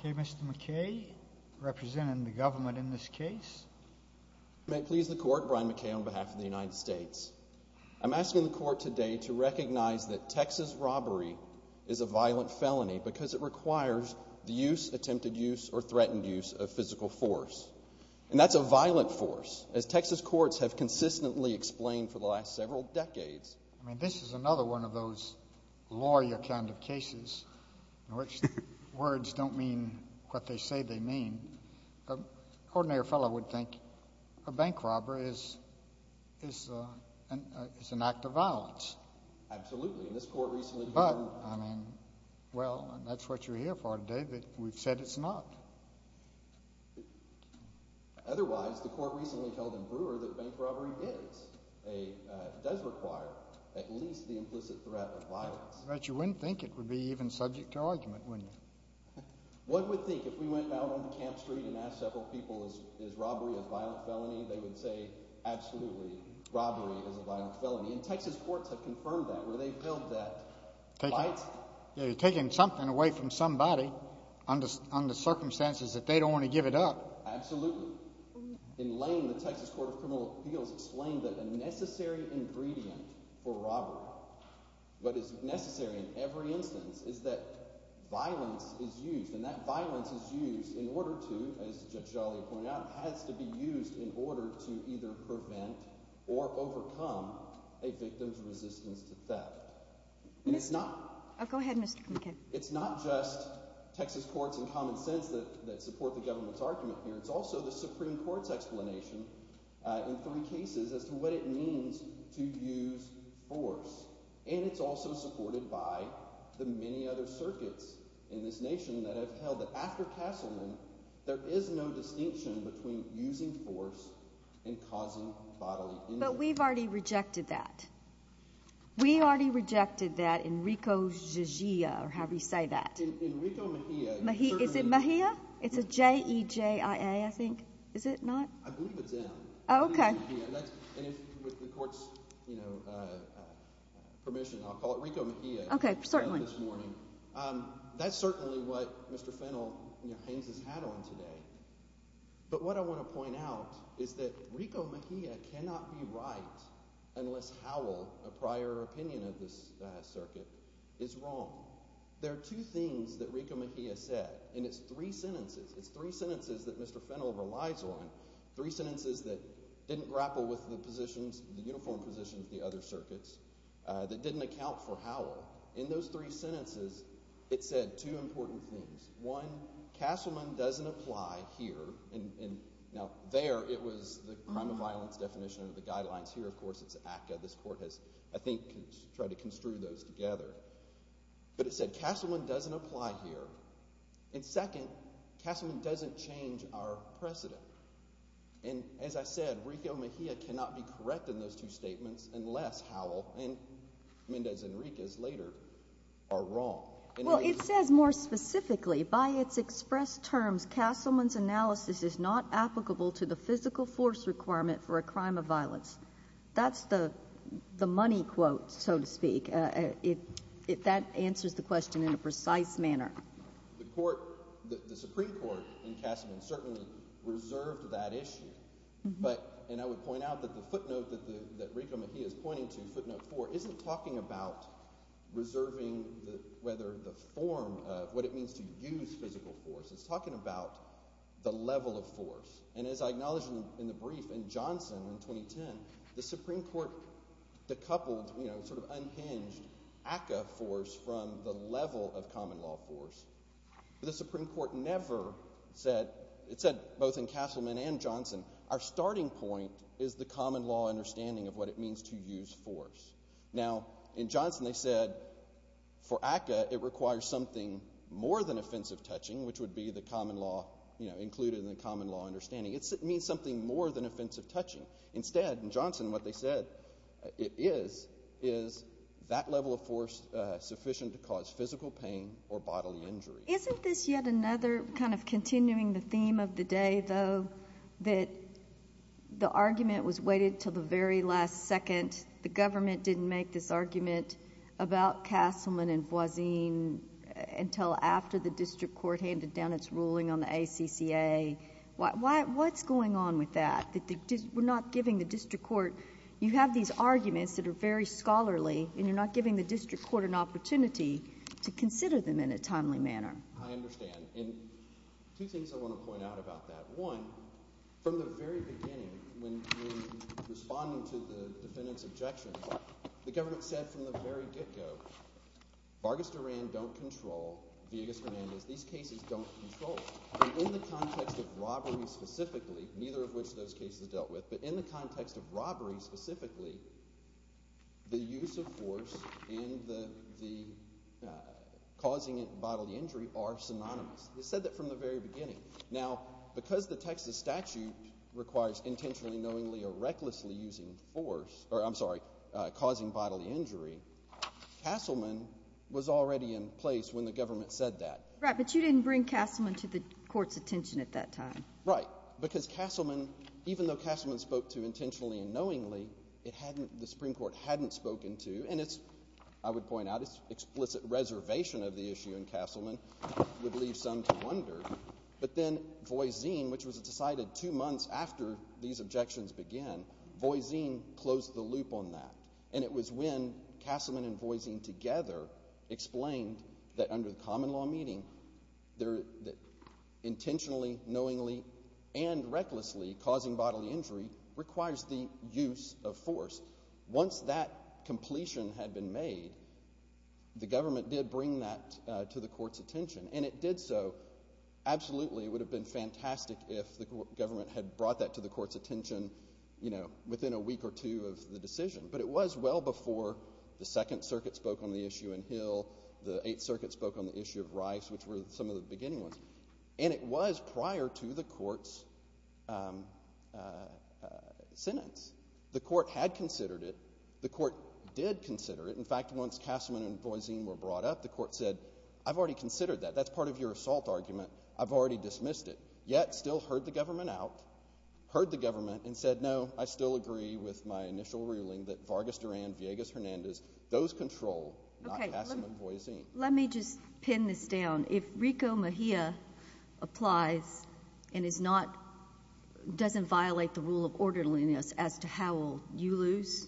Okay, Mr. McKay, representing the government in this case. May it please the court, Brian McKay on behalf of the United States. I'm asking the court today to recognize that Texas robbery is a violent felony because it requires the use, attempted use, or threatened use of physical force. And that's a violent force, as Texas courts have consistently explained for the last several decades. I mean, this is another one of those lawyer kind of cases in which words don't mean what they say they mean. I mean, an ordinary fellow would think a bank robbery is an act of violence. But, I mean, well, that's what you're here for today, but we've said it's not. But you wouldn't think it would be even subject to argument, wouldn't you? What would think if we went out on Camp Street and asked several people, is robbery a violent felony? They would say, absolutely, robbery is a violent felony. And Texas courts have confirmed that, where they've held that right. Yeah, you're taking something away from somebody under circumstances that they don't want to give it up. Absolutely. In Lane, the Texas Court of Criminal Appeals explained that a necessary ingredient for And that violence is used in order to, as Judge Joliot pointed out, has to be used in order to either prevent or overcome a victim's resistance to theft. And it's not just Texas courts and common sense that support the government's argument here. It's also the Supreme Court's explanation in three cases as to what it means to use force. And it's also supported by the many other circuits in this nation that have held that after Castleman, there is no distinction between using force and causing bodily injury. But we've already rejected that. We already rejected that in Rico's Jigia, or however you say that. Enrico Mejia. Is it Mejia? It's a J-E-J-I-A, I think. Is it not? I believe it's M. Oh, okay. It's Enrico Mejia. And if, with the court's, you know, permission, I'll call it Enrico Mejia. Okay. Certainly. This morning. That's certainly what Mr. Fennell, you know, Haines has had on today. But what I want to point out is that Enrico Mejia cannot be right unless Howell, a prior opinion of this circuit, is wrong. There are two things that Enrico Mejia said, and it's three sentences, it's three sentences that Mr. Fennell relies on, three sentences that didn't grapple with the positions, the uniform positions of the other circuits, that didn't account for Howell. In those three sentences, it said two important things. One, Castleman doesn't apply here, and now there, it was the crime of violence definition of the guidelines. Here, of course, it's ACCA. This court has, I think, tried to construe those together. But it said Castleman doesn't apply here. And second, Castleman doesn't change our precedent. And as I said, Enrico Mejia cannot be correct in those two statements unless Howell and Mendez Enriquez later are wrong. Well, it says more specifically, by its expressed terms, Castleman's analysis is not applicable to the physical force requirement for a crime of violence. That's the money quote, so to speak. If that answers the question in a precise manner. The Supreme Court in Castleman certainly reserved that issue, and I would point out that the footnote that Enrico Mejia is pointing to, footnote four, isn't talking about reserving whether the form of what it means to use physical force. It's talking about the level of force. And as I acknowledged in the brief in Johnson in 2010, the Supreme Court decoupled, sort of, changed ACCA force from the level of common law force. The Supreme Court never said, it said both in Castleman and Johnson, our starting point is the common law understanding of what it means to use force. Now, in Johnson they said, for ACCA it requires something more than offensive touching, which would be the common law, you know, included in the common law understanding. It means something more than offensive touching. Instead, in Johnson, what they said it is, is that level of force sufficient to cause physical pain or bodily injury. Isn't this yet another, kind of, continuing the theme of the day, though, that the argument was waited until the very last second. The government didn't make this argument about Castleman and Voisin until after the District Court handed down its ruling on the ACCA. What's going on with that? We're not giving the District Court, you have these arguments that are very scholarly and you're not giving the District Court an opportunity to consider them in a timely manner. I understand. And two things I want to point out about that. One, from the very beginning, when responding to the defendant's objections, the government said from the very get-go, Vargas Duran don't control Villegas Hernandez. These cases don't control. In the context of robberies specifically, neither of which those cases dealt with, but in the context of robberies specifically, the use of force and the causing bodily injury are synonymous. They said that from the very beginning. Now, because the Texas statute requires intentionally, knowingly, or recklessly using force, or I'm sorry, causing bodily injury, Castleman was already in place when the government said that. Right, but you didn't bring Castleman to the court's attention at that time. Right, because Castleman, even though Castleman spoke to intentionally and knowingly, the Supreme Court hadn't spoken to, and it's, I would point out, it's explicit reservation of the issue in Castleman, which would leave some to wonder, but then Voisine, which was decided two months after these objections began, Voisine closed the loop on that. And it was when Castleman and Voisine together explained that under the common law meeting, there, that intentionally, knowingly, and recklessly causing bodily injury requires the use of force. Once that completion had been made, the government did bring that to the court's attention, and it did so, absolutely, it would have been fantastic if the government had brought that to the court's attention, you know, within a week or two of the decision. But it was well before the Second Circuit spoke on the issue in Hill, the Eighth Circuit spoke on the issue of Rice, which were some of the beginning ones, and it was prior to the court's sentence. The court had considered it, the court did consider it, in fact, once Castleman and Voisine were brought up, the court said, I've already considered that, that's part of your assault argument, I've already dismissed it. Yet, still heard the government out, heard the government and said, no, I still agree with my initial ruling that Vargas Duran, Villegas Hernandez, those control, not Castleman and Voisine. Let me just pin this down, if Rico Mejia applies and is not, doesn't violate the rule of orderliness as to how will you lose?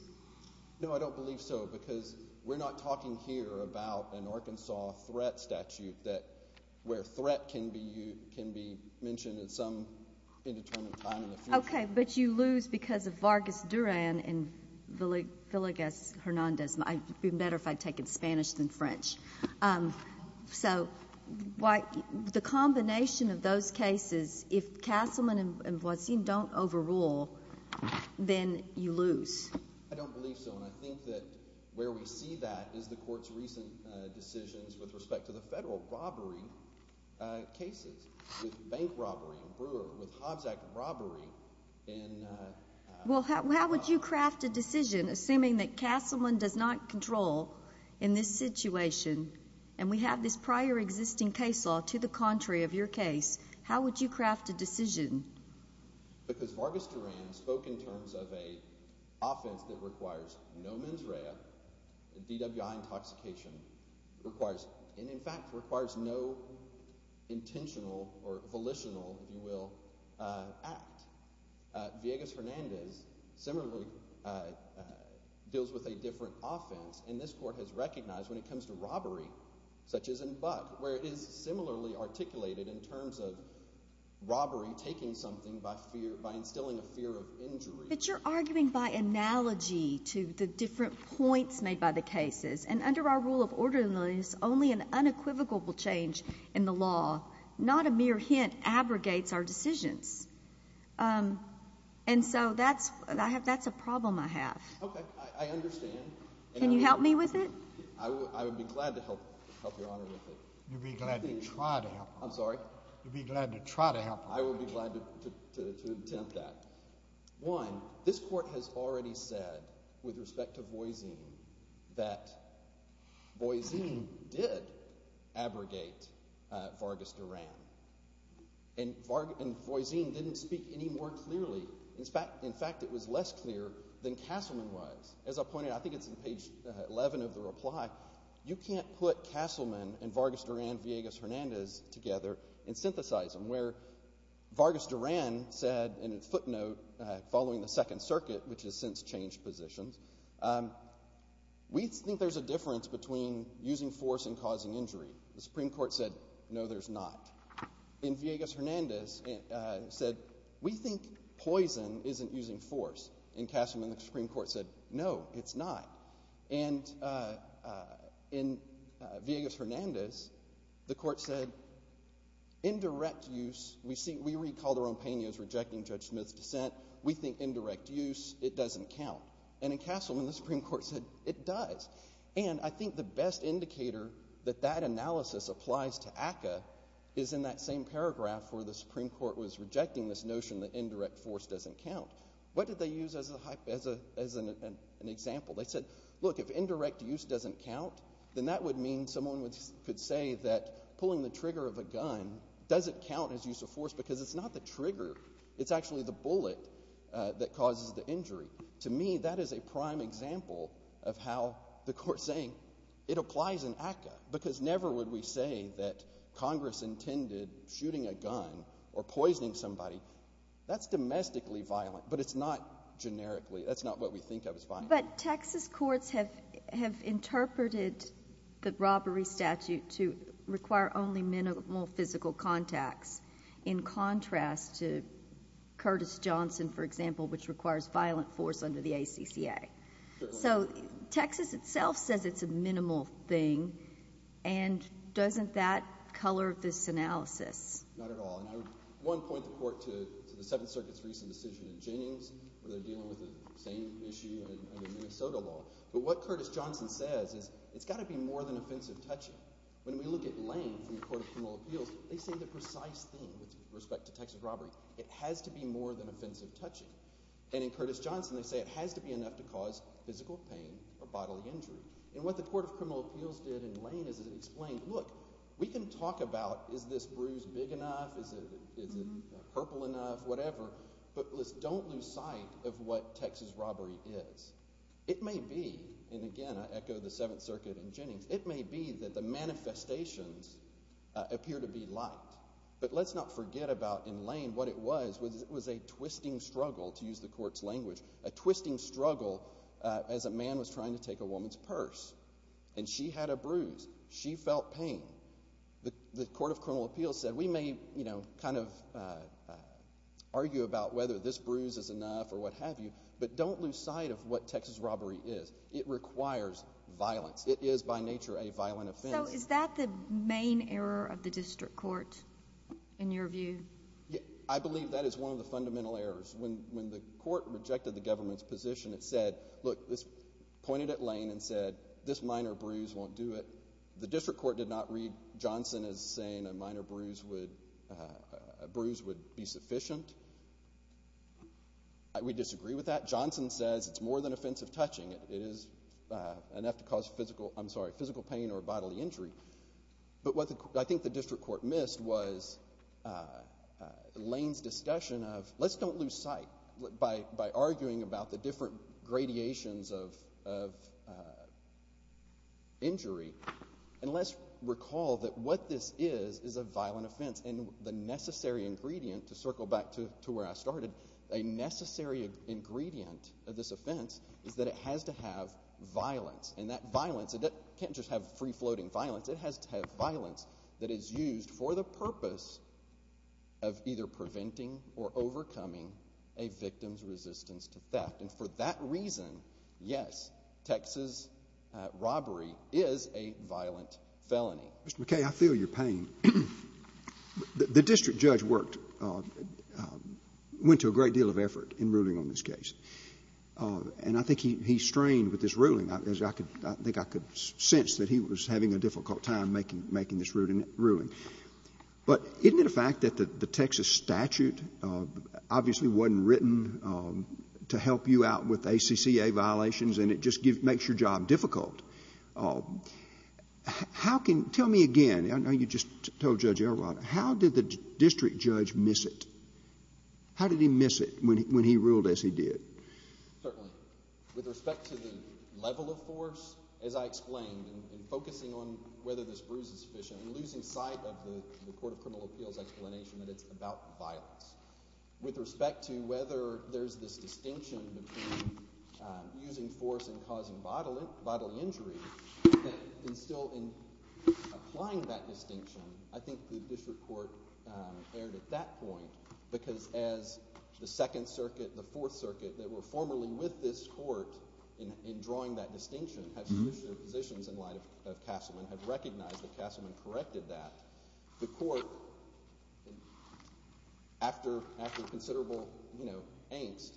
No, I don't believe so, because we're not talking here about an Arkansas threat statute that, where threat can be mentioned at some indeterminate time in the future. Okay, but you lose because of Vargas Duran and Villegas Hernandez, it would be better if I had taken Spanish than French. So, the combination of those cases, if Castleman and Voisine don't overrule, then you lose. I don't believe so, and I think that where we see that is the court's recent decisions with respect to the federal robbery cases, with bank robbery in Brewer, with Hobbs Act robbery in- Well, how would you craft a decision, assuming that Castleman does not control in this situation and we have this prior existing case law to the contrary of your case, how would you craft a decision? Because Vargas Duran spoke in terms of an offense that requires no mens rea, DWI intoxication requires, and in fact requires no intentional or volitional, if you will, act. Villegas Hernandez similarly deals with a different offense, and this court has recognized when it comes to robbery, such as in Buck, where it is similarly articulated in terms of robbery taking something by instilling a fear of injury. But you're arguing by analogy to the different points made by the cases, and under our rule of orderliness, only an unequivocal change in the law, not a mere hint, abrogates our decisions. And so that's a problem I have. Okay. I understand. Can you help me with it? I would be glad to help your Honor with it. You'd be glad to try to help her. I'm sorry? You'd be glad to try to help her. I would be glad to attempt that. One, this court has already said, with respect to Voisine, that Voisine did abrogate Vargas Duran, and Voisine didn't speak any more clearly. In fact, it was less clear than Castleman was. As I pointed out, I think it's in page 11 of the reply, you can't put Castleman and Vargas Duran and Villegas Hernandez together and synthesize them, where Vargas Duran said in a footnote following the Second Circuit, which has since changed positions, we think there's a difference between using force and causing injury. The Supreme Court said, no, there's not. And Villegas Hernandez said, we think poison isn't using force. And Castleman and the Supreme Court said, no, it's not. And in Villegas Hernandez, the court said, in direct use, we recall the Rompenos rejecting Judge Smith's dissent, we think indirect use, it doesn't count. And in Castleman, the Supreme Court said, it does. And I think the best indicator that that analysis applies to ACCA is in that same paragraph where the Supreme Court was rejecting this notion that indirect force doesn't count. What did they use as an example? They said, look, if indirect use doesn't count, then that would mean someone could say that pulling the trigger of a gun doesn't count as use of force because it's not the trigger, it's actually the bullet that causes the injury. To me, that is a prime example of how the court's saying it applies in ACCA because never would we say that Congress intended shooting a gun or poisoning somebody. That's domestically violent, but it's not generically, that's not what we think of as violent. But Texas courts have interpreted the robbery statute to require only minimal physical contacts in contrast to Curtis-Johnson, for example, which requires violent force under the ACCA. So Texas itself says it's a minimal thing, and doesn't that color this analysis? Not at all. And I would, one, point the court to the Seventh Circuit's recent decision in Jennings where they're dealing with the same issue under Minnesota law. But what Curtis-Johnson says is, it's got to be more than offensive touching. When we look at Lane from the Court of Criminal Appeals, they say the precise thing with respect to Texas robbery. It has to be more than offensive touching. And in Curtis-Johnson they say it has to be enough to cause physical pain or bodily injury. And what the Court of Criminal Appeals did in Lane is it explained, look, we can talk about is this bruise big enough, is it purple enough, whatever, but let's don't lose sight of what Texas robbery is. It may be, and again I echo the Seventh Circuit in Jennings, it may be that the manifestations appear to be light. But let's not forget about, in Lane, what it was. It was a twisting struggle, to use the Court's language, a twisting struggle as a man was trying to take a woman's purse. And she had a bruise. She felt pain. The Court of Criminal Appeals said we may, you know, kind of argue about whether this bruise is enough or what have you, but don't lose sight of what Texas robbery is. It requires violence. It is by nature a violent offense. So is that the main error of the district court, in your view? I believe that is one of the fundamental errors. When the court rejected the government's position, it said, look, pointed at Lane and said this minor bruise won't do it. The district court did not read Johnson as saying a minor bruise would be sufficient. We disagree with that. Johnson says it's more than offensive touching. It is enough to cause physical pain or bodily injury. But what I think the district court missed was Lane's discussion of, let's don't lose sight by arguing about the different gradations of injury. And let's recall that what this is is a violent offense. And the necessary ingredient, to circle back to where I started, a necessary ingredient of this offense is that it has to have violence. And that violence can't just have free-floating violence. It has to have violence that is used for the purpose of either preventing or overcoming a victim's resistance to theft. And for that reason, yes, Texas robbery is a violent felony. Mr. McKay, I feel your pain. The district judge worked, went to a great deal of effort in ruling on this case. And I think he strained with this ruling. I think I could sense that he was having a difficult time making this ruling. But isn't it a fact that the Texas statute obviously wasn't written to help you out with ACCA violations and it just makes your job difficult? How can, tell me again, I know you just told Judge Elrond, how did the district judge miss it? How did he miss it when he ruled as he did? Certainly. With respect to the level of force, as I explained, and focusing on whether this bruise is sufficient, and losing sight of the Court of Criminal Appeals explanation that it's about violence. With respect to whether there's this distinction between using force and causing bodily injury, and still applying that distinction, I think the district court erred at that point. Because as the Second Circuit, the Fourth Circuit, that were formerly with this court in drawing that distinction, have used their positions in light of Castleman, have recognized that Castleman corrected that. The court, after considerable angst,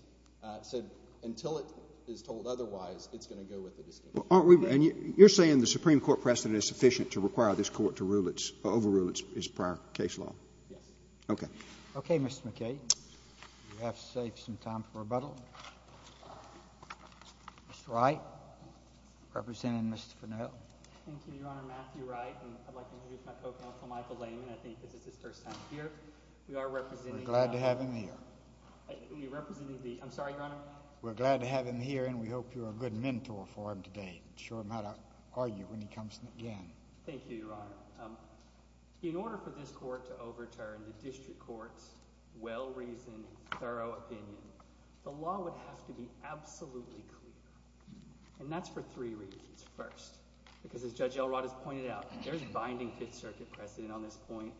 said until it is told otherwise, it's going to go with the distinction. And you're saying the Supreme Court precedent is sufficient to require this court to overrule its prior case law? Yes. Okay. Okay, Mr. McKay. We have to save some time for rebuttal. Mr. Wright, representing Ms. Fennell. Thank you, Your Honor. Matthew Wright, and I'd like to introduce my co-counsel, Michael Layman. I think this is his first time here. We are representing— We're glad to have him here. I'm sorry, Your Honor? We're glad to have him here, and we hope you're a good mentor for him today. Show him how to argue when he comes again. Thank you, Your Honor. In order for this court to overturn the district court's well-reasoned, thorough opinion, the law would have to be absolutely clear. And that's for three reasons. First, because as Judge Elrod has pointed out, there's binding Fifth Circuit precedent on this point,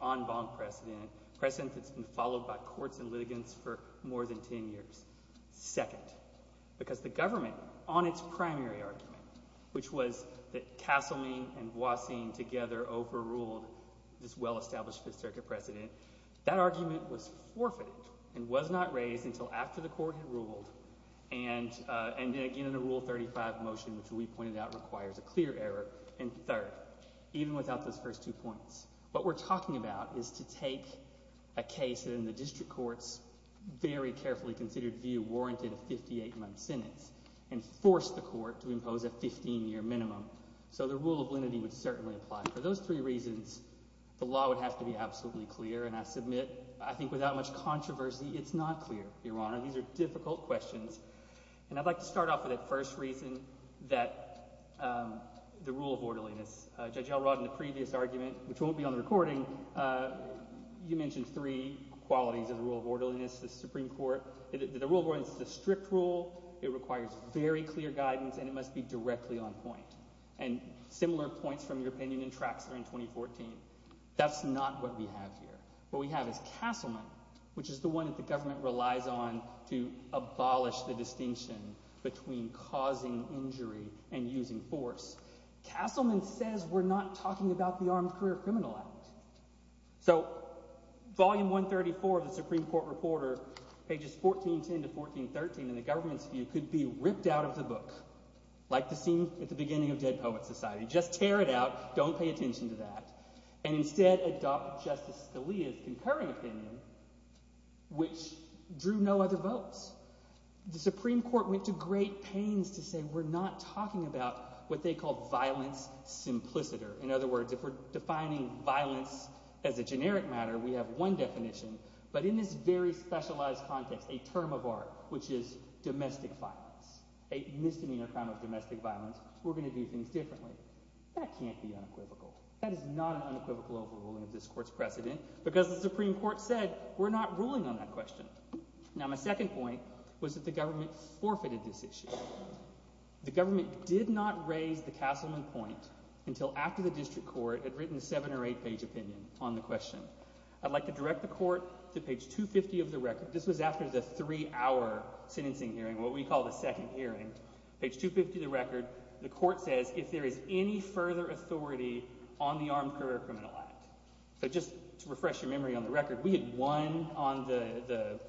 precedent that's been followed by courts and litigants for more than ten years. Second, because the government, on its primary argument, which was that Castlemane and Boissin together overruled this well-established Fifth Circuit precedent, that argument was forfeited and was not raised until after the court had ruled, and again, in a Rule 35 motion, which we pointed out requires a clear error. And third, even without those first two points, what we're talking about is to take a case that in the district court's very carefully considered view warranted a 58-month sentence and force the court to impose a 15-year minimum. So the rule of lenity would certainly apply. For those three reasons, the law would have to be absolutely clear, and I submit, I think without much controversy, it's not clear, Your Honor. These are difficult questions, and I'd like to start off with that first reason, that the rule of orderliness. Judge Elrod, in the previous argument, which won't be on the recording, you mentioned three qualities of the rule of orderliness in the Supreme Court. The rule of orderliness is a strict rule. It requires very clear guidance, and it must be directly on point. And similar points from your opinion in Traxler in 2014. That's not what we have here. What we have is Castlemane, which is the one that the government relies on to abolish the distinction between causing injury and using force. Castlemane says we're not talking about the Armed Career Criminal Act. So Volume 134 of the Supreme Court Reporter, pages 1410 to 1413, in the government's view, could be ripped out of the book, like the scene at the beginning of Dead Poets Society. Just tear it out. Don't pay attention to that. And instead adopt Justice Scalia's concurring opinion, which drew no other votes. The Supreme Court went to great pains to say we're not talking about what they call violence simpliciter. In other words, if we're defining violence as a generic matter, we have one definition, but in this very specialized context, a term of art, which is domestic violence, a misdemeanor crime of domestic violence, we're going to do things differently. That can't be unequivocal. That is not an unequivocal overruling of this court's precedent because the Supreme Court said we're not ruling on that question. Now my second point was that the government forfeited this issue. The government did not raise the Castleman point until after the district court had written a seven- or eight-page opinion on the question. I'd like to direct the court to page 250 of the record. This was after the three-hour sentencing hearing, what we call the second hearing. Page 250 of the record, the court says, if there is any further authority on the Armed Career Criminal Act. So just to refresh your memory on the record, we had won on the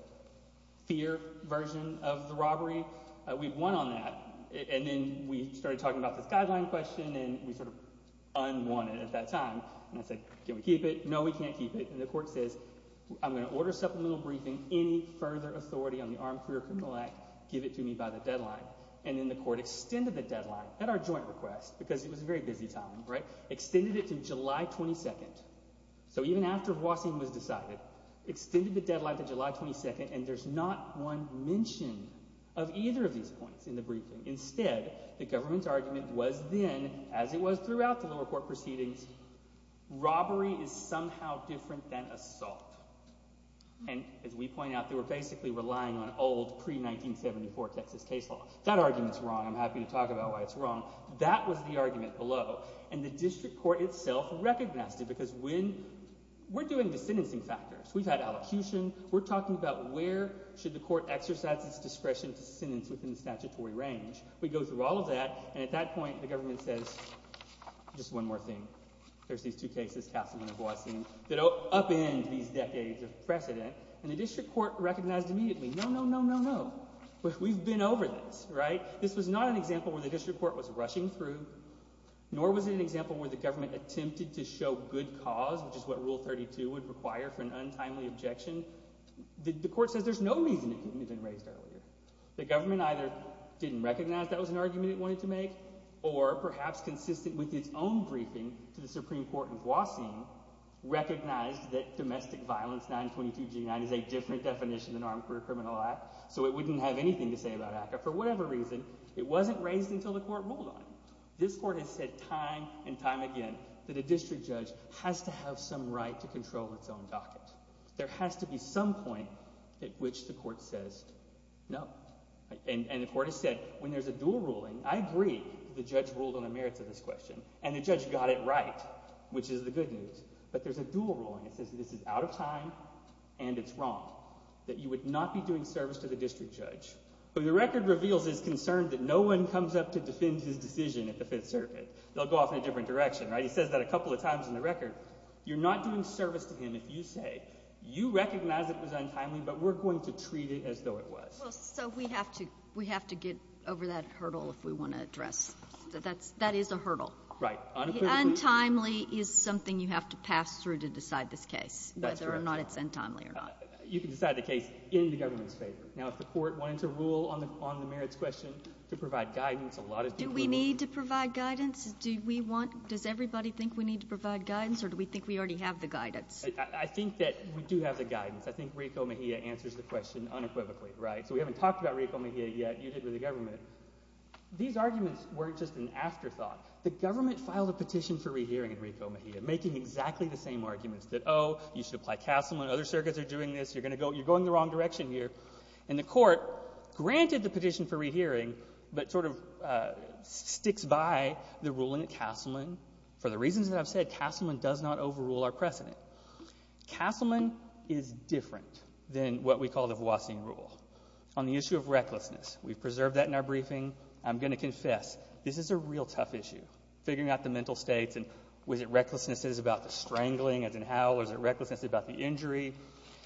fear version of the robbery. We'd won on that, and then we started talking about this guideline question and we sort of unwanted it at that time. And I said, can we keep it? No, we can't keep it. And the court says, I'm going to order supplemental briefing. Any further authority on the Armed Career Criminal Act, give it to me by the deadline. And then the court extended the deadline at our joint request because it was a very busy time, extended it to July 22. So even after Voisin was decided, extended the deadline to July 22, and there's not one mention of either of these points in the briefing. Instead, the government's argument was then, as it was throughout the lower court proceedings, robbery is somehow different than assault. And as we point out, they were basically relying on old, pre-1974 Texas case law. That argument's wrong. I'm happy to talk about why it's wrong. That was the argument below, and the district court itself recognized it because we're doing the sentencing factors. We've had allocution. We're talking about where should the court exercise its discretion to sentence within the statutory range. We go through all of that, and at that point the government says, just one more thing, there's these two cases, Castleman and Voisin, that upend these decades of precedent. And the district court recognized immediately, no, no, no, no, no. We've been over this, right? This was not an example where the district court was rushing through, nor was it an example where the government attempted to show good cause, which is what Rule 32 would require for an untimely objection. The court says there's no reason it couldn't have been raised earlier. The government either didn't recognize that was an argument it wanted to make, or perhaps consistent with its own briefing to the Supreme Court in Voisin, recognized that domestic violence, 922 G9, is a different definition than armed career criminal act, so it wouldn't have anything to say about ACCA for whatever reason. It wasn't raised until the court ruled on it. This court has said time and time again that a district judge has to have some right to control its own docket. There has to be some point at which the court says no. And the court has said when there's a dual ruling, I agree the judge ruled on the merits of this question, and the judge got it right, which is the good news, but there's a dual ruling that says this is out of time and it's wrong, that you would not be doing service to the district judge. The record reveals his concern that no one comes up to defend his decision at the Fifth Circuit. They'll go off in a different direction, right? He says that a couple of times in the record. You're not doing service to him if you say you recognize it was untimely, but we're going to treat it as though it was. So we have to get over that hurdle if we want to address it. That is a hurdle. Untimely is something you have to pass through to decide this case, whether or not it's untimely or not. You can decide the case in the government's favor. Now, if the court wanted to rule on the merits question, to provide guidance, a lot of dual rulings— Do we need to provide guidance? Do we want—does everybody think we need to provide guidance or do we think we already have the guidance? I think that we do have the guidance. I think Rico Mejia answers the question unequivocally, right? So we haven't talked about Rico Mejia yet. You did with the government. These arguments weren't just an afterthought. The government filed a petition for rehearing in Rico Mejia, making exactly the same arguments that, oh, you should apply CASM when other circuits are doing this. You're going the wrong direction here. And the court granted the petition for rehearing but sort of sticks by the ruling at Castleman. For the reasons that I've said, Castleman does not overrule our precedent. Castleman is different than what we call the Voisin rule. On the issue of recklessness, we've preserved that in our briefing. I'm going to confess, this is a real tough issue, figuring out the mental states and whether recklessness is about the strangling, as in howl, or is it recklessness about the injury.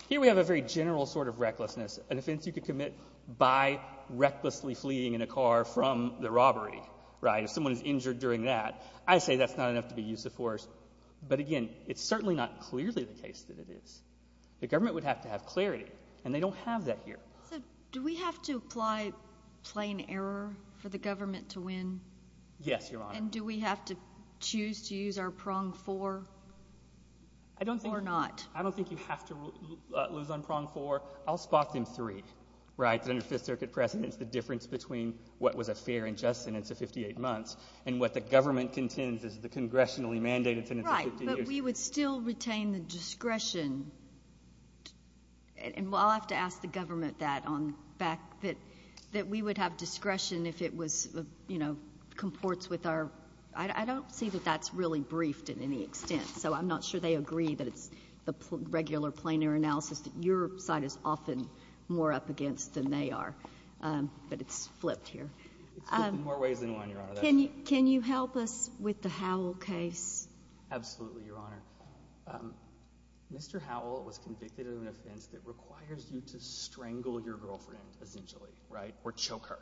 Here we have a very general sort of recklessness, a defense you could commit by recklessly fleeing in a car from the robbery, right, if someone is injured during that. I say that's not enough to be use of force. But, again, it's certainly not clearly the case that it is. The government would have to have clarity, and they don't have that here. So do we have to apply plain error for the government to win? Yes, Your Honor. And do we have to choose to use our prong four or not? I don't think you have to lose on prong four. I'll spot them three, right, that under Fifth Circuit precedents, the difference between what was a fair and just sentence of 58 months and what the government contends is the congressionally mandated sentence of 15 years. Right, but we would still retain the discretion. And I'll have to ask the government that on the fact that we would have discretion if it was, you know, comports with our – I don't see that that's really briefed in any extent, so I'm not sure they agree that it's the regular plain error analysis that your side is often more up against than they are. But it's flipped here. It's flipped in more ways than one, Your Honor. Can you help us with the Howell case? Absolutely, Your Honor. Mr. Howell was convicted of an offense that requires you to strangle your girlfriend, essentially, right, or choke her.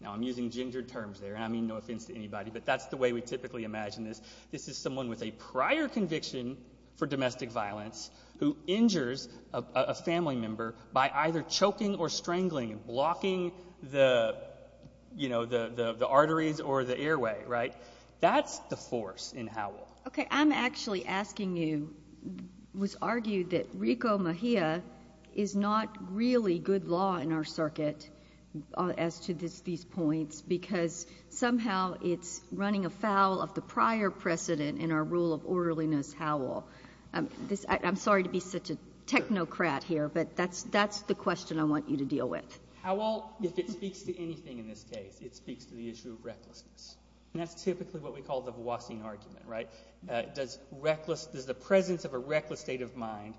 Now, I'm using gendered terms there, and I mean no offense to anybody, but that's the way we typically imagine this. This is someone with a prior conviction for domestic violence who injures a family member by either choking or strangling and blocking the, you know, the arteries or the airway. Right? That's the force in Howell. Okay. I'm actually asking you. It was argued that Rico Mejia is not really good law in our circuit as to these points because somehow it's running afoul of the prior precedent in our rule of orderliness Howell. I'm sorry to be such a technocrat here, but that's the question I want you to deal with. Howell, if it speaks to anything in this case, it speaks to the issue of recklessness, and that's typically what we call the Voisin argument, right? Does the presence of a reckless state of mind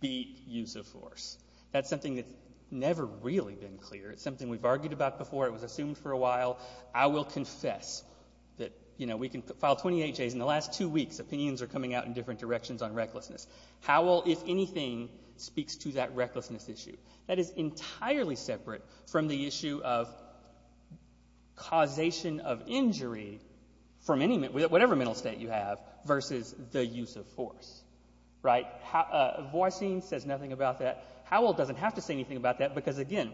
beat use of force? That's something that's never really been clear. It's something we've argued about before. It was assumed for a while. I will confess that, you know, we can file 28 J's in the last two weeks. Opinions are coming out in different directions on recklessness. Howell, if anything, speaks to that recklessness issue. That is entirely separate from the issue of causation of injury from whatever mental state you have versus the use of force. Right? Voisin says nothing about that. Howell doesn't have to say anything about that because, again,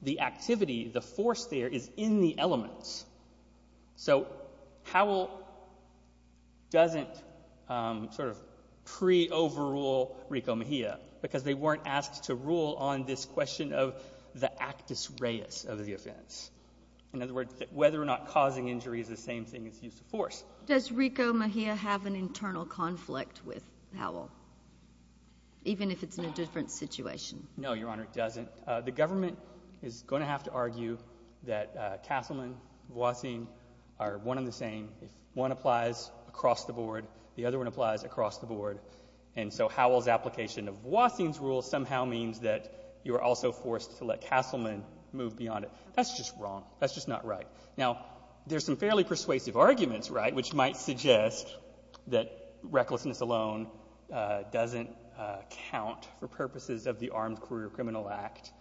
the activity, the force there is in the elements. So Howell doesn't sort of pre-overrule Rico Mejia because they weren't asked to rule on this question of the actus reus of the offense. In other words, whether or not causing injury is the same thing as use of force. Does Rico Mejia have an internal conflict with Howell, even if it's in a different situation? No, Your Honor, it doesn't. The government is going to have to argue that Castleman, Voisin are one and the same. If one applies across the board, the other one applies across the board. And so Howell's application of Voisin's rule somehow means that you are also forced to let Castleman move beyond it. That's just wrong. That's just not right. Now, there's some fairly persuasive arguments, right, which might suggest that recklessness alone doesn't count for purposes of the Armed Career Criminal Act.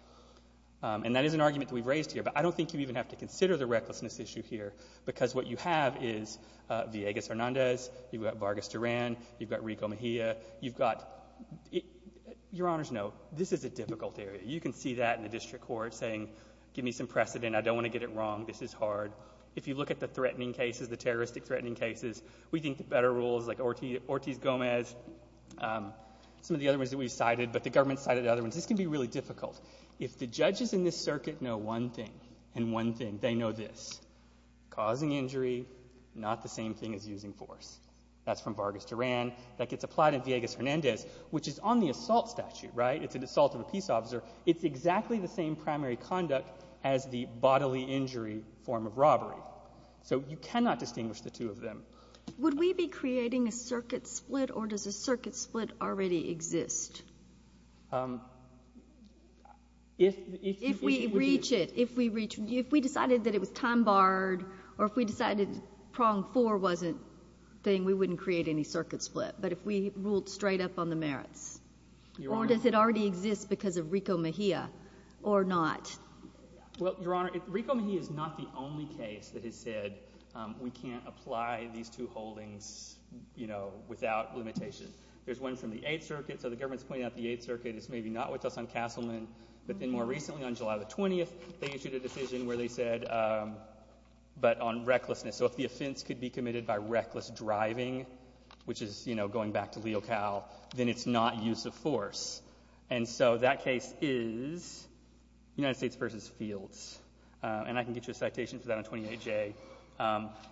And that is an argument that we've raised here. But I don't think you even have to consider the recklessness issue here because what you have is Villegas-Hernandez, you've got Vargas-Duran, you've got Rico Mejia, you've got — Your Honors, no. This is a difficult area. You can see that in the district court saying, give me some precedent. I don't want to get it wrong. This is hard. If you look at the threatening cases, the terroristic threatening cases, we think the better rules like Ortiz-Gomez, some of the other ones that we've cited, but the government cited other ones. This can be really difficult. If the judges in this circuit know one thing and one thing, they know this. Causing injury, not the same thing as using force. That's from Vargas-Duran. That gets applied in Villegas-Hernandez, which is on the assault statute, right? It's an assault of a peace officer. It's exactly the same primary conduct as the bodily injury form of robbery. So you cannot distinguish the two of them. Would we be creating a circuit split or does a circuit split already exist? If we reach it, if we decided that it was time-barred or if we decided prong four wasn't a thing, we wouldn't create any circuit split. But if we ruled straight up on the merits. Or does it already exist because of Rico Mejia or not? Well, Your Honor, Rico Mejia is not the only case that has said we can't apply these two holdings without limitation. There's one from the Eighth Circuit. So the government's pointing out the Eighth Circuit is maybe not with us on Castleman. But then more recently, on July 20th, they issued a decision where they said, but on recklessness. So if the offense could be committed by reckless driving, which is going back to Leo Cowell, then it's not use of force. And so that case is United States v. Fields. And I can get you a citation for that on 28J.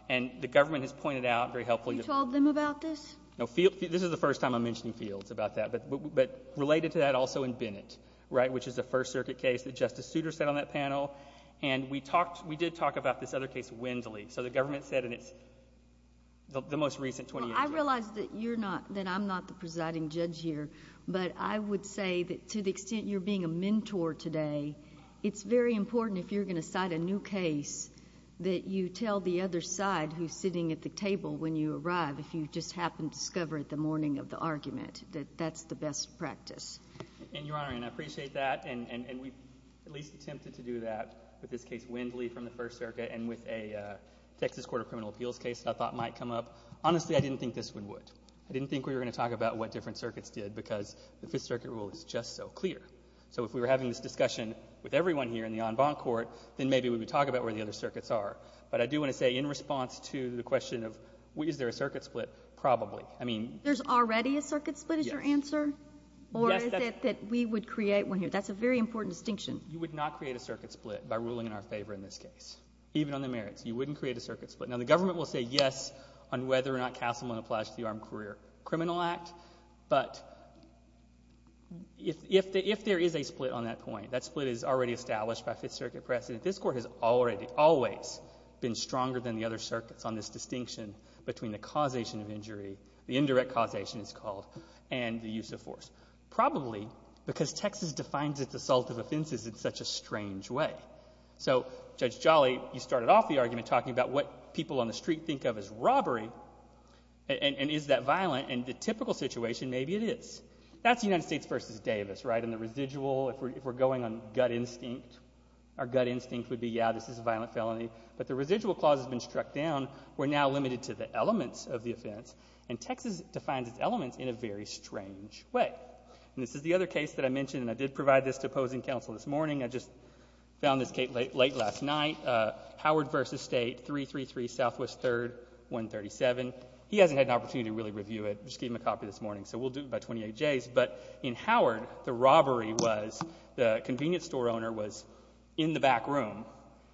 And the government has pointed out very helpfully. You told them about this? No. This is the first time I'm mentioning Fields about that. But related to that also in Bennett, right, which is the First Circuit case that Justice Souter said on that panel. And we did talk about this other case, Wendley. So the government said in the most recent 28J. Well, I realize that I'm not the presiding judge here. But I would say that to the extent you're being a mentor today, it's very important if you're going to cite a new case that you tell the other side who's sitting at the table when you arrive if you just happen to discover it the morning of the argument, that that's the best practice. And, Your Honor, and I appreciate that. And we've at least attempted to do that with this case, Wendley, from the First Circuit and with a Texas Court of Criminal Appeals case that I thought might come up. Honestly, I didn't think this one would. I didn't think we were going to talk about what different circuits did because the Fifth Circuit rule is just so clear. So if we were having this discussion with everyone here in the en banc court, then maybe we would talk about where the other circuits are. But I do want to say in response to the question of is there a circuit split, probably. I mean — There's already a circuit split is your answer? Yes. Or is it that we would create one here? That's a very important distinction. You would not create a circuit split by ruling in our favor in this case, even on the merits. You wouldn't create a circuit split. Now, the government will say yes on whether or not Castleman applies to the Armed Career Criminal Act. But if there is a split on that point, that split is already established by Fifth Circuit precedent. This Court has already always been stronger than the other circuits on this distinction between the causation of injury, the indirect causation it's called, and the use of force. Probably because Texas defines its assault of offenses in such a strange way. So, Judge Jolly, you started off the argument talking about what people on the street think of as robbery and is that violent. And the typical situation, maybe it is. That's the United States v. Davis, right? And the residual, if we're going on gut instinct, our gut instinct would be, yeah, this is a violent felony. But the residual clause has been struck down. We're now limited to the elements of the offense. And Texas defines its elements in a very strange way. And this is the other case that I mentioned, and I did provide this to opposing counsel this morning. I just found this late last night. Howard v. State, 333 Southwest 3rd, 137. He hasn't had an opportunity to really review it. I just gave him a copy this morning, so we'll do it by 28 days. But in Howard, the robbery was the convenience store owner was in the back room,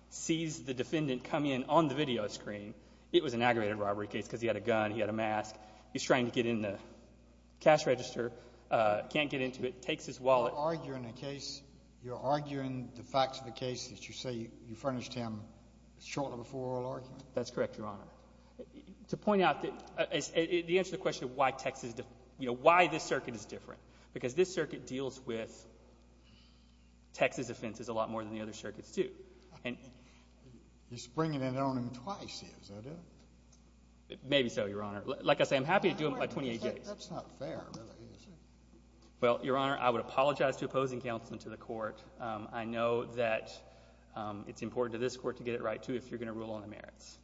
sees the defendant come in on the video screen. It was an aggravated robbery case because he had a gun, he had a mask. He's trying to get in the cash register, can't get into it, takes his wallet. You're arguing the facts of the case that you say you furnished him shortly before oral argument? That's correct, Your Honor. To point out the answer to the question of why this circuit is different, because this circuit deals with Texas offenses a lot more than the other circuits do. You're springing it on him twice, is that it? Maybe so, Your Honor. Like I say, I'm happy to do it by 28 days. That's not fair. Well, Your Honor, I would apologize to opposing counsel and to the court. I know that it's important to this court to get it right too if you're going to rule on the merits.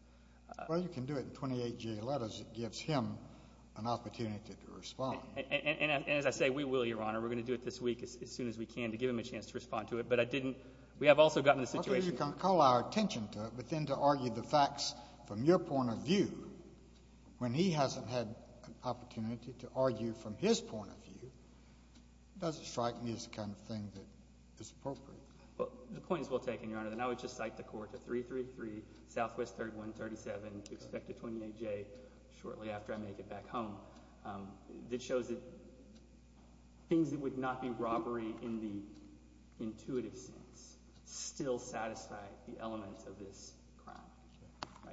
Well, you can do it in 28-day letters. It gives him an opportunity to respond. And as I say, we will, Your Honor. We're going to do it this week as soon as we can to give him a chance to respond to it. But I didn't. We have also gotten the situation. Okay. You can call our attention to it, but then to argue the facts from your point of view when he hasn't had an opportunity to argue from his point of view, it doesn't strike me as the kind of thing that is appropriate. The point is well taken, Your Honor. And I would just cite the court to 333 Southwest 3137 to expect a 28-day shortly after I make it back home. That shows that things that would not be robbery in the intuitive sense still satisfy the elements of this crime.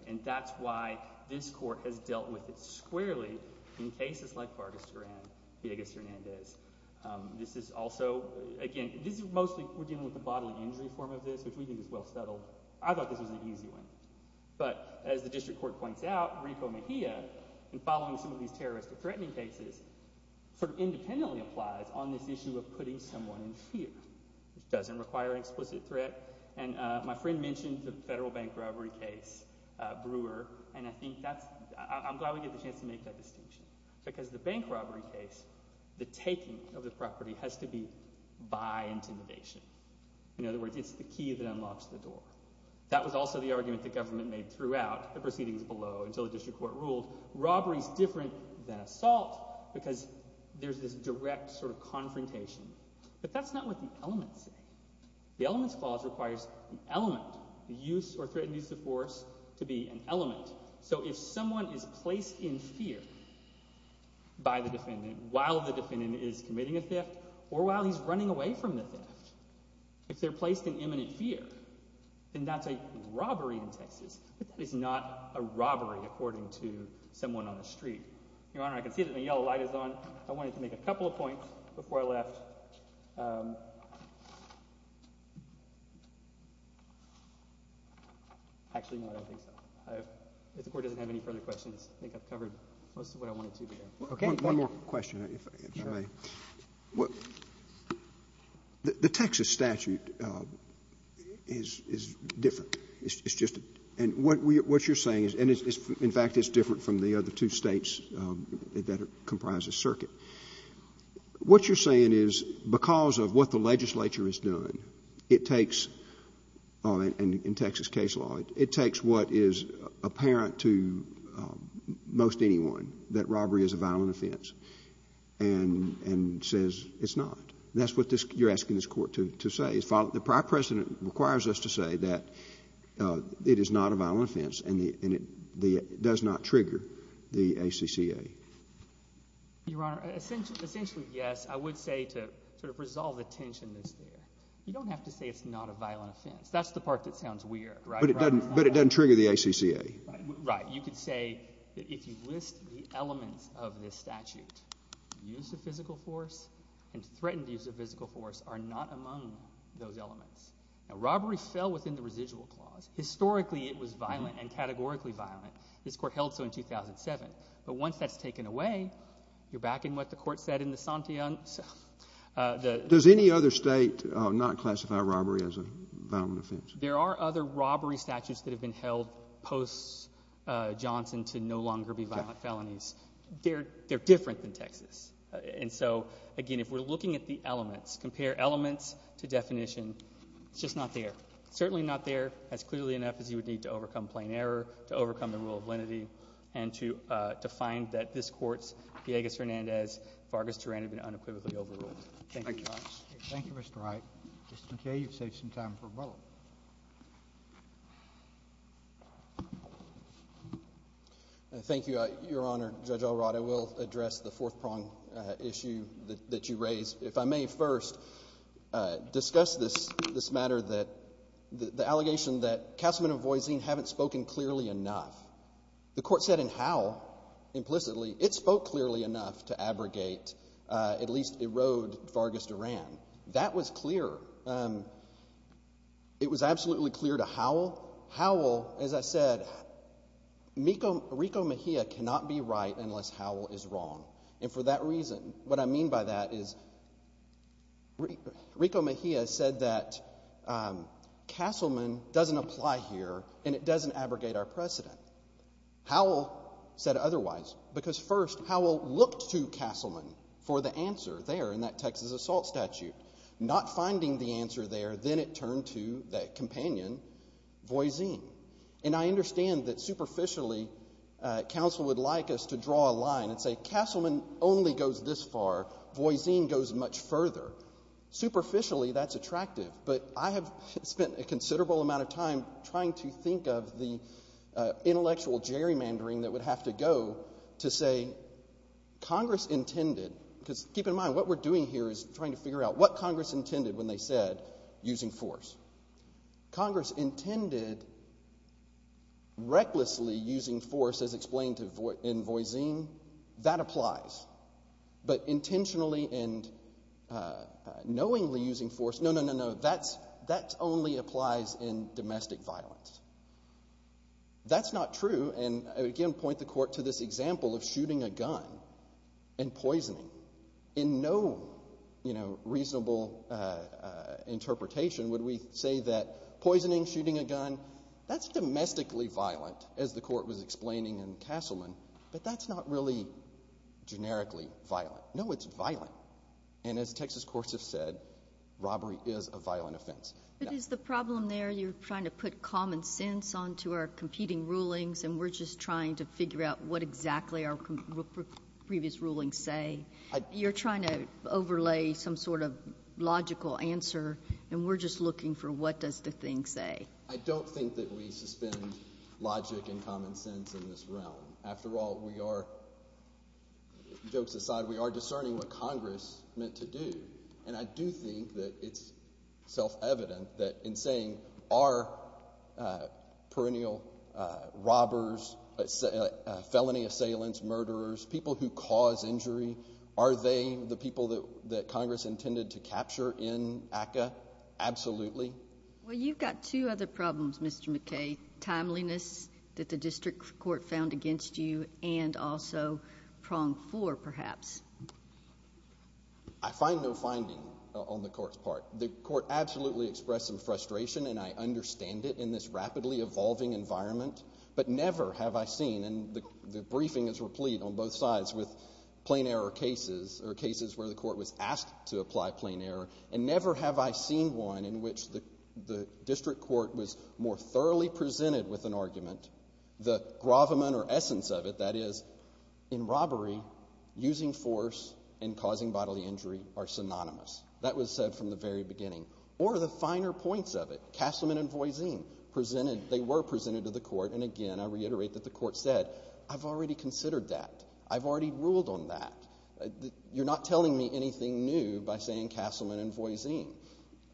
And that's why this court has dealt with it squarely in cases like Vargas Duran and Villegas Hernandez. This is also, again, this is mostly we're dealing with the bodily injury form of this, which we think is well settled. I thought this was an easy one. But as the district court points out, Rico Mejia, in following some of these terrorist or threatening cases, sort of independently applies on this issue of putting someone in fear, which doesn't require an explicit threat. And my friend mentioned the federal bank robbery case, Brewer. And I think that's – I'm glad we get the chance to make that distinction because the bank robbery case, the taking of the property has to be by intimidation. In other words, it's the key that unlocks the door. That was also the argument the government made throughout the proceedings below until the district court ruled. Robbery is different than assault because there's this direct sort of confrontation. But that's not what the elements say. The elements clause requires an element, the use or threatened use of force to be an element. So if someone is placed in fear by the defendant while the defendant is committing a theft or while he's running away from the theft, if they're placed in imminent fear, then that's a robbery in Texas. But that is not a robbery according to someone on the street. Your Honor, I can see that the yellow light is on. I wanted to make a couple of points before I left. Actually, no, I don't think so. If the court doesn't have any further questions, I think I've covered most of what I wanted to today. Okay, thank you. One more question, if I may. The Texas statute is different. It's just a — and what you're saying is — and, in fact, it's different from the other two States that comprise the circuit. What you're saying is because of what the legislature has done, it takes — in Texas case law, it takes what is apparent to most anyone, that robbery is a violent offense, and says it's not. That's what you're asking this court to say. The prior precedent requires us to say that it is not a violent offense and it does not trigger the ACCA. Your Honor, essentially, yes. I would say to sort of resolve the tension that's there, you don't have to say it's not a violent offense. That's the part that sounds weird, right? But it doesn't trigger the ACCA. Right. You could say that if you list the elements of this statute, use of physical force and threatened use of physical force are not among those elements. Now, robbery fell within the residual clause. Historically, it was violent and categorically violent. This court held so in 2007. But once that's taken away, you're back in what the court said in the — Does any other State not classify robbery as a violent offense? There are other robbery statutes that have been held post-Johnson to no longer be violent felonies. They're different than Texas. And so, again, if we're looking at the elements, compare elements to definition, it's just not there. It's certainly not there as clearly enough as you would need to overcome plain error, to overcome the rule of lenity, and to find that this Court's, Villegas-Hernandez, Vargas-Turan have been unequivocally overruled. Thank you, Your Honor. Thank you, Mr. Wright. Mr. McKay, you've saved some time for rebuttal. Thank you, Your Honor. Judge Elrod, I will address the fourth-prong issue that you raised. If I may first discuss this matter, the allegation that Castelman and Voisine haven't spoken clearly enough. The Court said in Howell implicitly it spoke clearly enough to abrogate, at least erode, Vargas-Turan. That was clear. It was absolutely clear to Howell. Howell, as I said, Rico Mejia cannot be right unless Howell is wrong. And for that reason, what I mean by that is Rico Mejia said that Castelman doesn't apply here, and it doesn't abrogate our precedent. Howell said otherwise because, first, Howell looked to Castelman for the answer there in that Texas assault statute. Not finding the answer there, then it turned to that companion, Voisine. And I understand that superficially counsel would like us to draw a line and say, Castelman only goes this far, Voisine goes much further. Superficially, that's attractive. But I have spent a considerable amount of time trying to think of the intellectual gerrymandering that would have to go to say Congress intended. Because keep in mind, what we're doing here is trying to figure out what Congress intended when they said using force. Congress intended recklessly using force as explained in Voisine. That applies. But intentionally and knowingly using force, no, no, no, no, that only applies in domestic violence. That's not true. And, again, point the court to this example of shooting a gun and poisoning. In no reasonable interpretation would we say that poisoning, shooting a gun, that's domestically violent, as the court was explaining in Castelman. But that's not really generically violent. No, it's violent. And as Texas courts have said, robbery is a violent offense. But is the problem there you're trying to put common sense onto our competing rulings and we're just trying to figure out what exactly our previous rulings say? You're trying to overlay some sort of logical answer, and we're just looking for what does the thing say? I don't think that we suspend logic and common sense in this realm. After all, we are, jokes aside, we are discerning what Congress meant to do. And I do think that it's self-evident that in saying are perennial robbers, felony assailants, murderers, people who cause injury, are they the people that Congress intended to capture in ACCA? Absolutely. Well, you've got two other problems, Mr. McKay, timeliness that the district court found against you and also prong four, perhaps. I find no finding on the court's part. The court absolutely expressed some frustration, and I understand it in this rapidly evolving environment. But never have I seen, and the briefing is replete on both sides with plain error cases or cases where the court was asked to apply plain error, and never have I seen one in which the district court was more thoroughly presented with an argument, the gravamen or essence of it, that is, in robbery, using force and causing bodily injury are synonymous. That was said from the very beginning. Or the finer points of it, Castleman and Voisine, presented, they were presented to the court, and again I reiterate that the court said, I've already considered that. I've already ruled on that. You're not telling me anything new by saying Castleman and Voisine.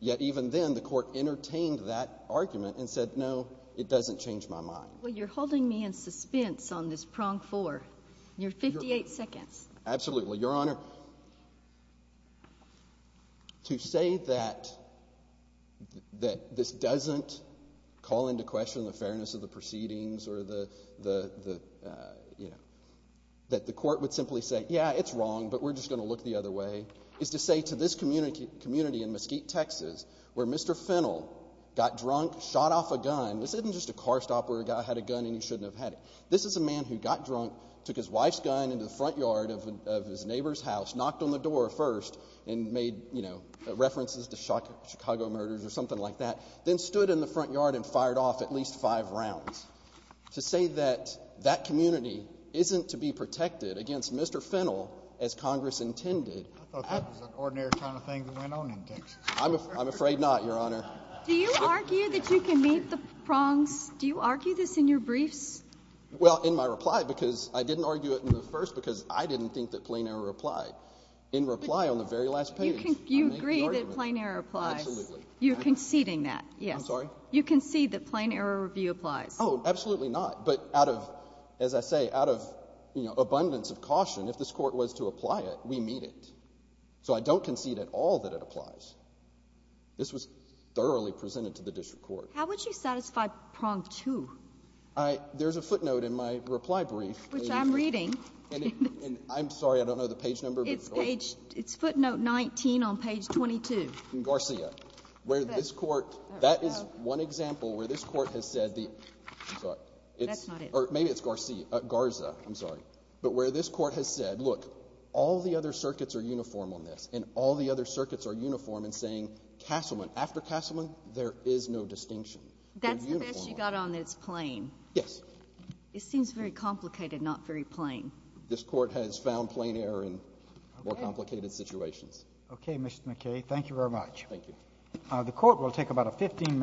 Yet even then, the court entertained that argument and said, no, it doesn't change my mind. Well, you're holding me in suspense on this prong four. You're 58 seconds. Absolutely. Your Honor, to say that this doesn't call into question the fairness of the proceedings or the, you know, that the court would simply say, yeah, it's wrong, but we're just going to look the other way, is to say to this community in Mesquite, Texas, where Mr. Fennell got drunk, shot off a gun, this isn't just a car stop where a guy had a gun and you shouldn't have had it. This is a man who got drunk, took his wife's gun into the front yard of his neighbor's house, knocked on the door first and made, you know, references to Chicago murders or something like that, then stood in the front yard and fired off at least five rounds. To say that that community isn't to be protected against Mr. Fennell, as Congress intended. I thought that was an ordinary kind of thing that went on in Texas. I'm afraid not, Your Honor. Do you argue that you can meet the prongs? Do you argue this in your briefs? Well, in my reply, because I didn't argue it in the first because I didn't think that Plano replied. In reply on the very last page. You agree that Plano replies. Absolutely. You're conceding that, yes. I'm sorry? You concede that plain error review applies. Oh, absolutely not. But out of, as I say, out of abundance of caution, if this Court was to apply it, we meet it. So I don't concede at all that it applies. This was thoroughly presented to the district court. How would you satisfy prong two? There's a footnote in my reply brief. Which I'm reading. And I'm sorry, I don't know the page number. It's footnote 19 on page 22. Garcia. Where this Court, that is one example where this Court has said the, I'm sorry. That's not it. Or maybe it's Garcia, Garza, I'm sorry. But where this Court has said, look, all the other circuits are uniform on this. And all the other circuits are uniform in saying Castleman. After Castleman, there is no distinction. That's the best you got on that it's plain. Yes. It seems very complicated, not very plain. This Court has found plain error in more complicated situations. Okay, Mr. McKay. Thank you very much. Thank you. The Court will take about a 15 minute break.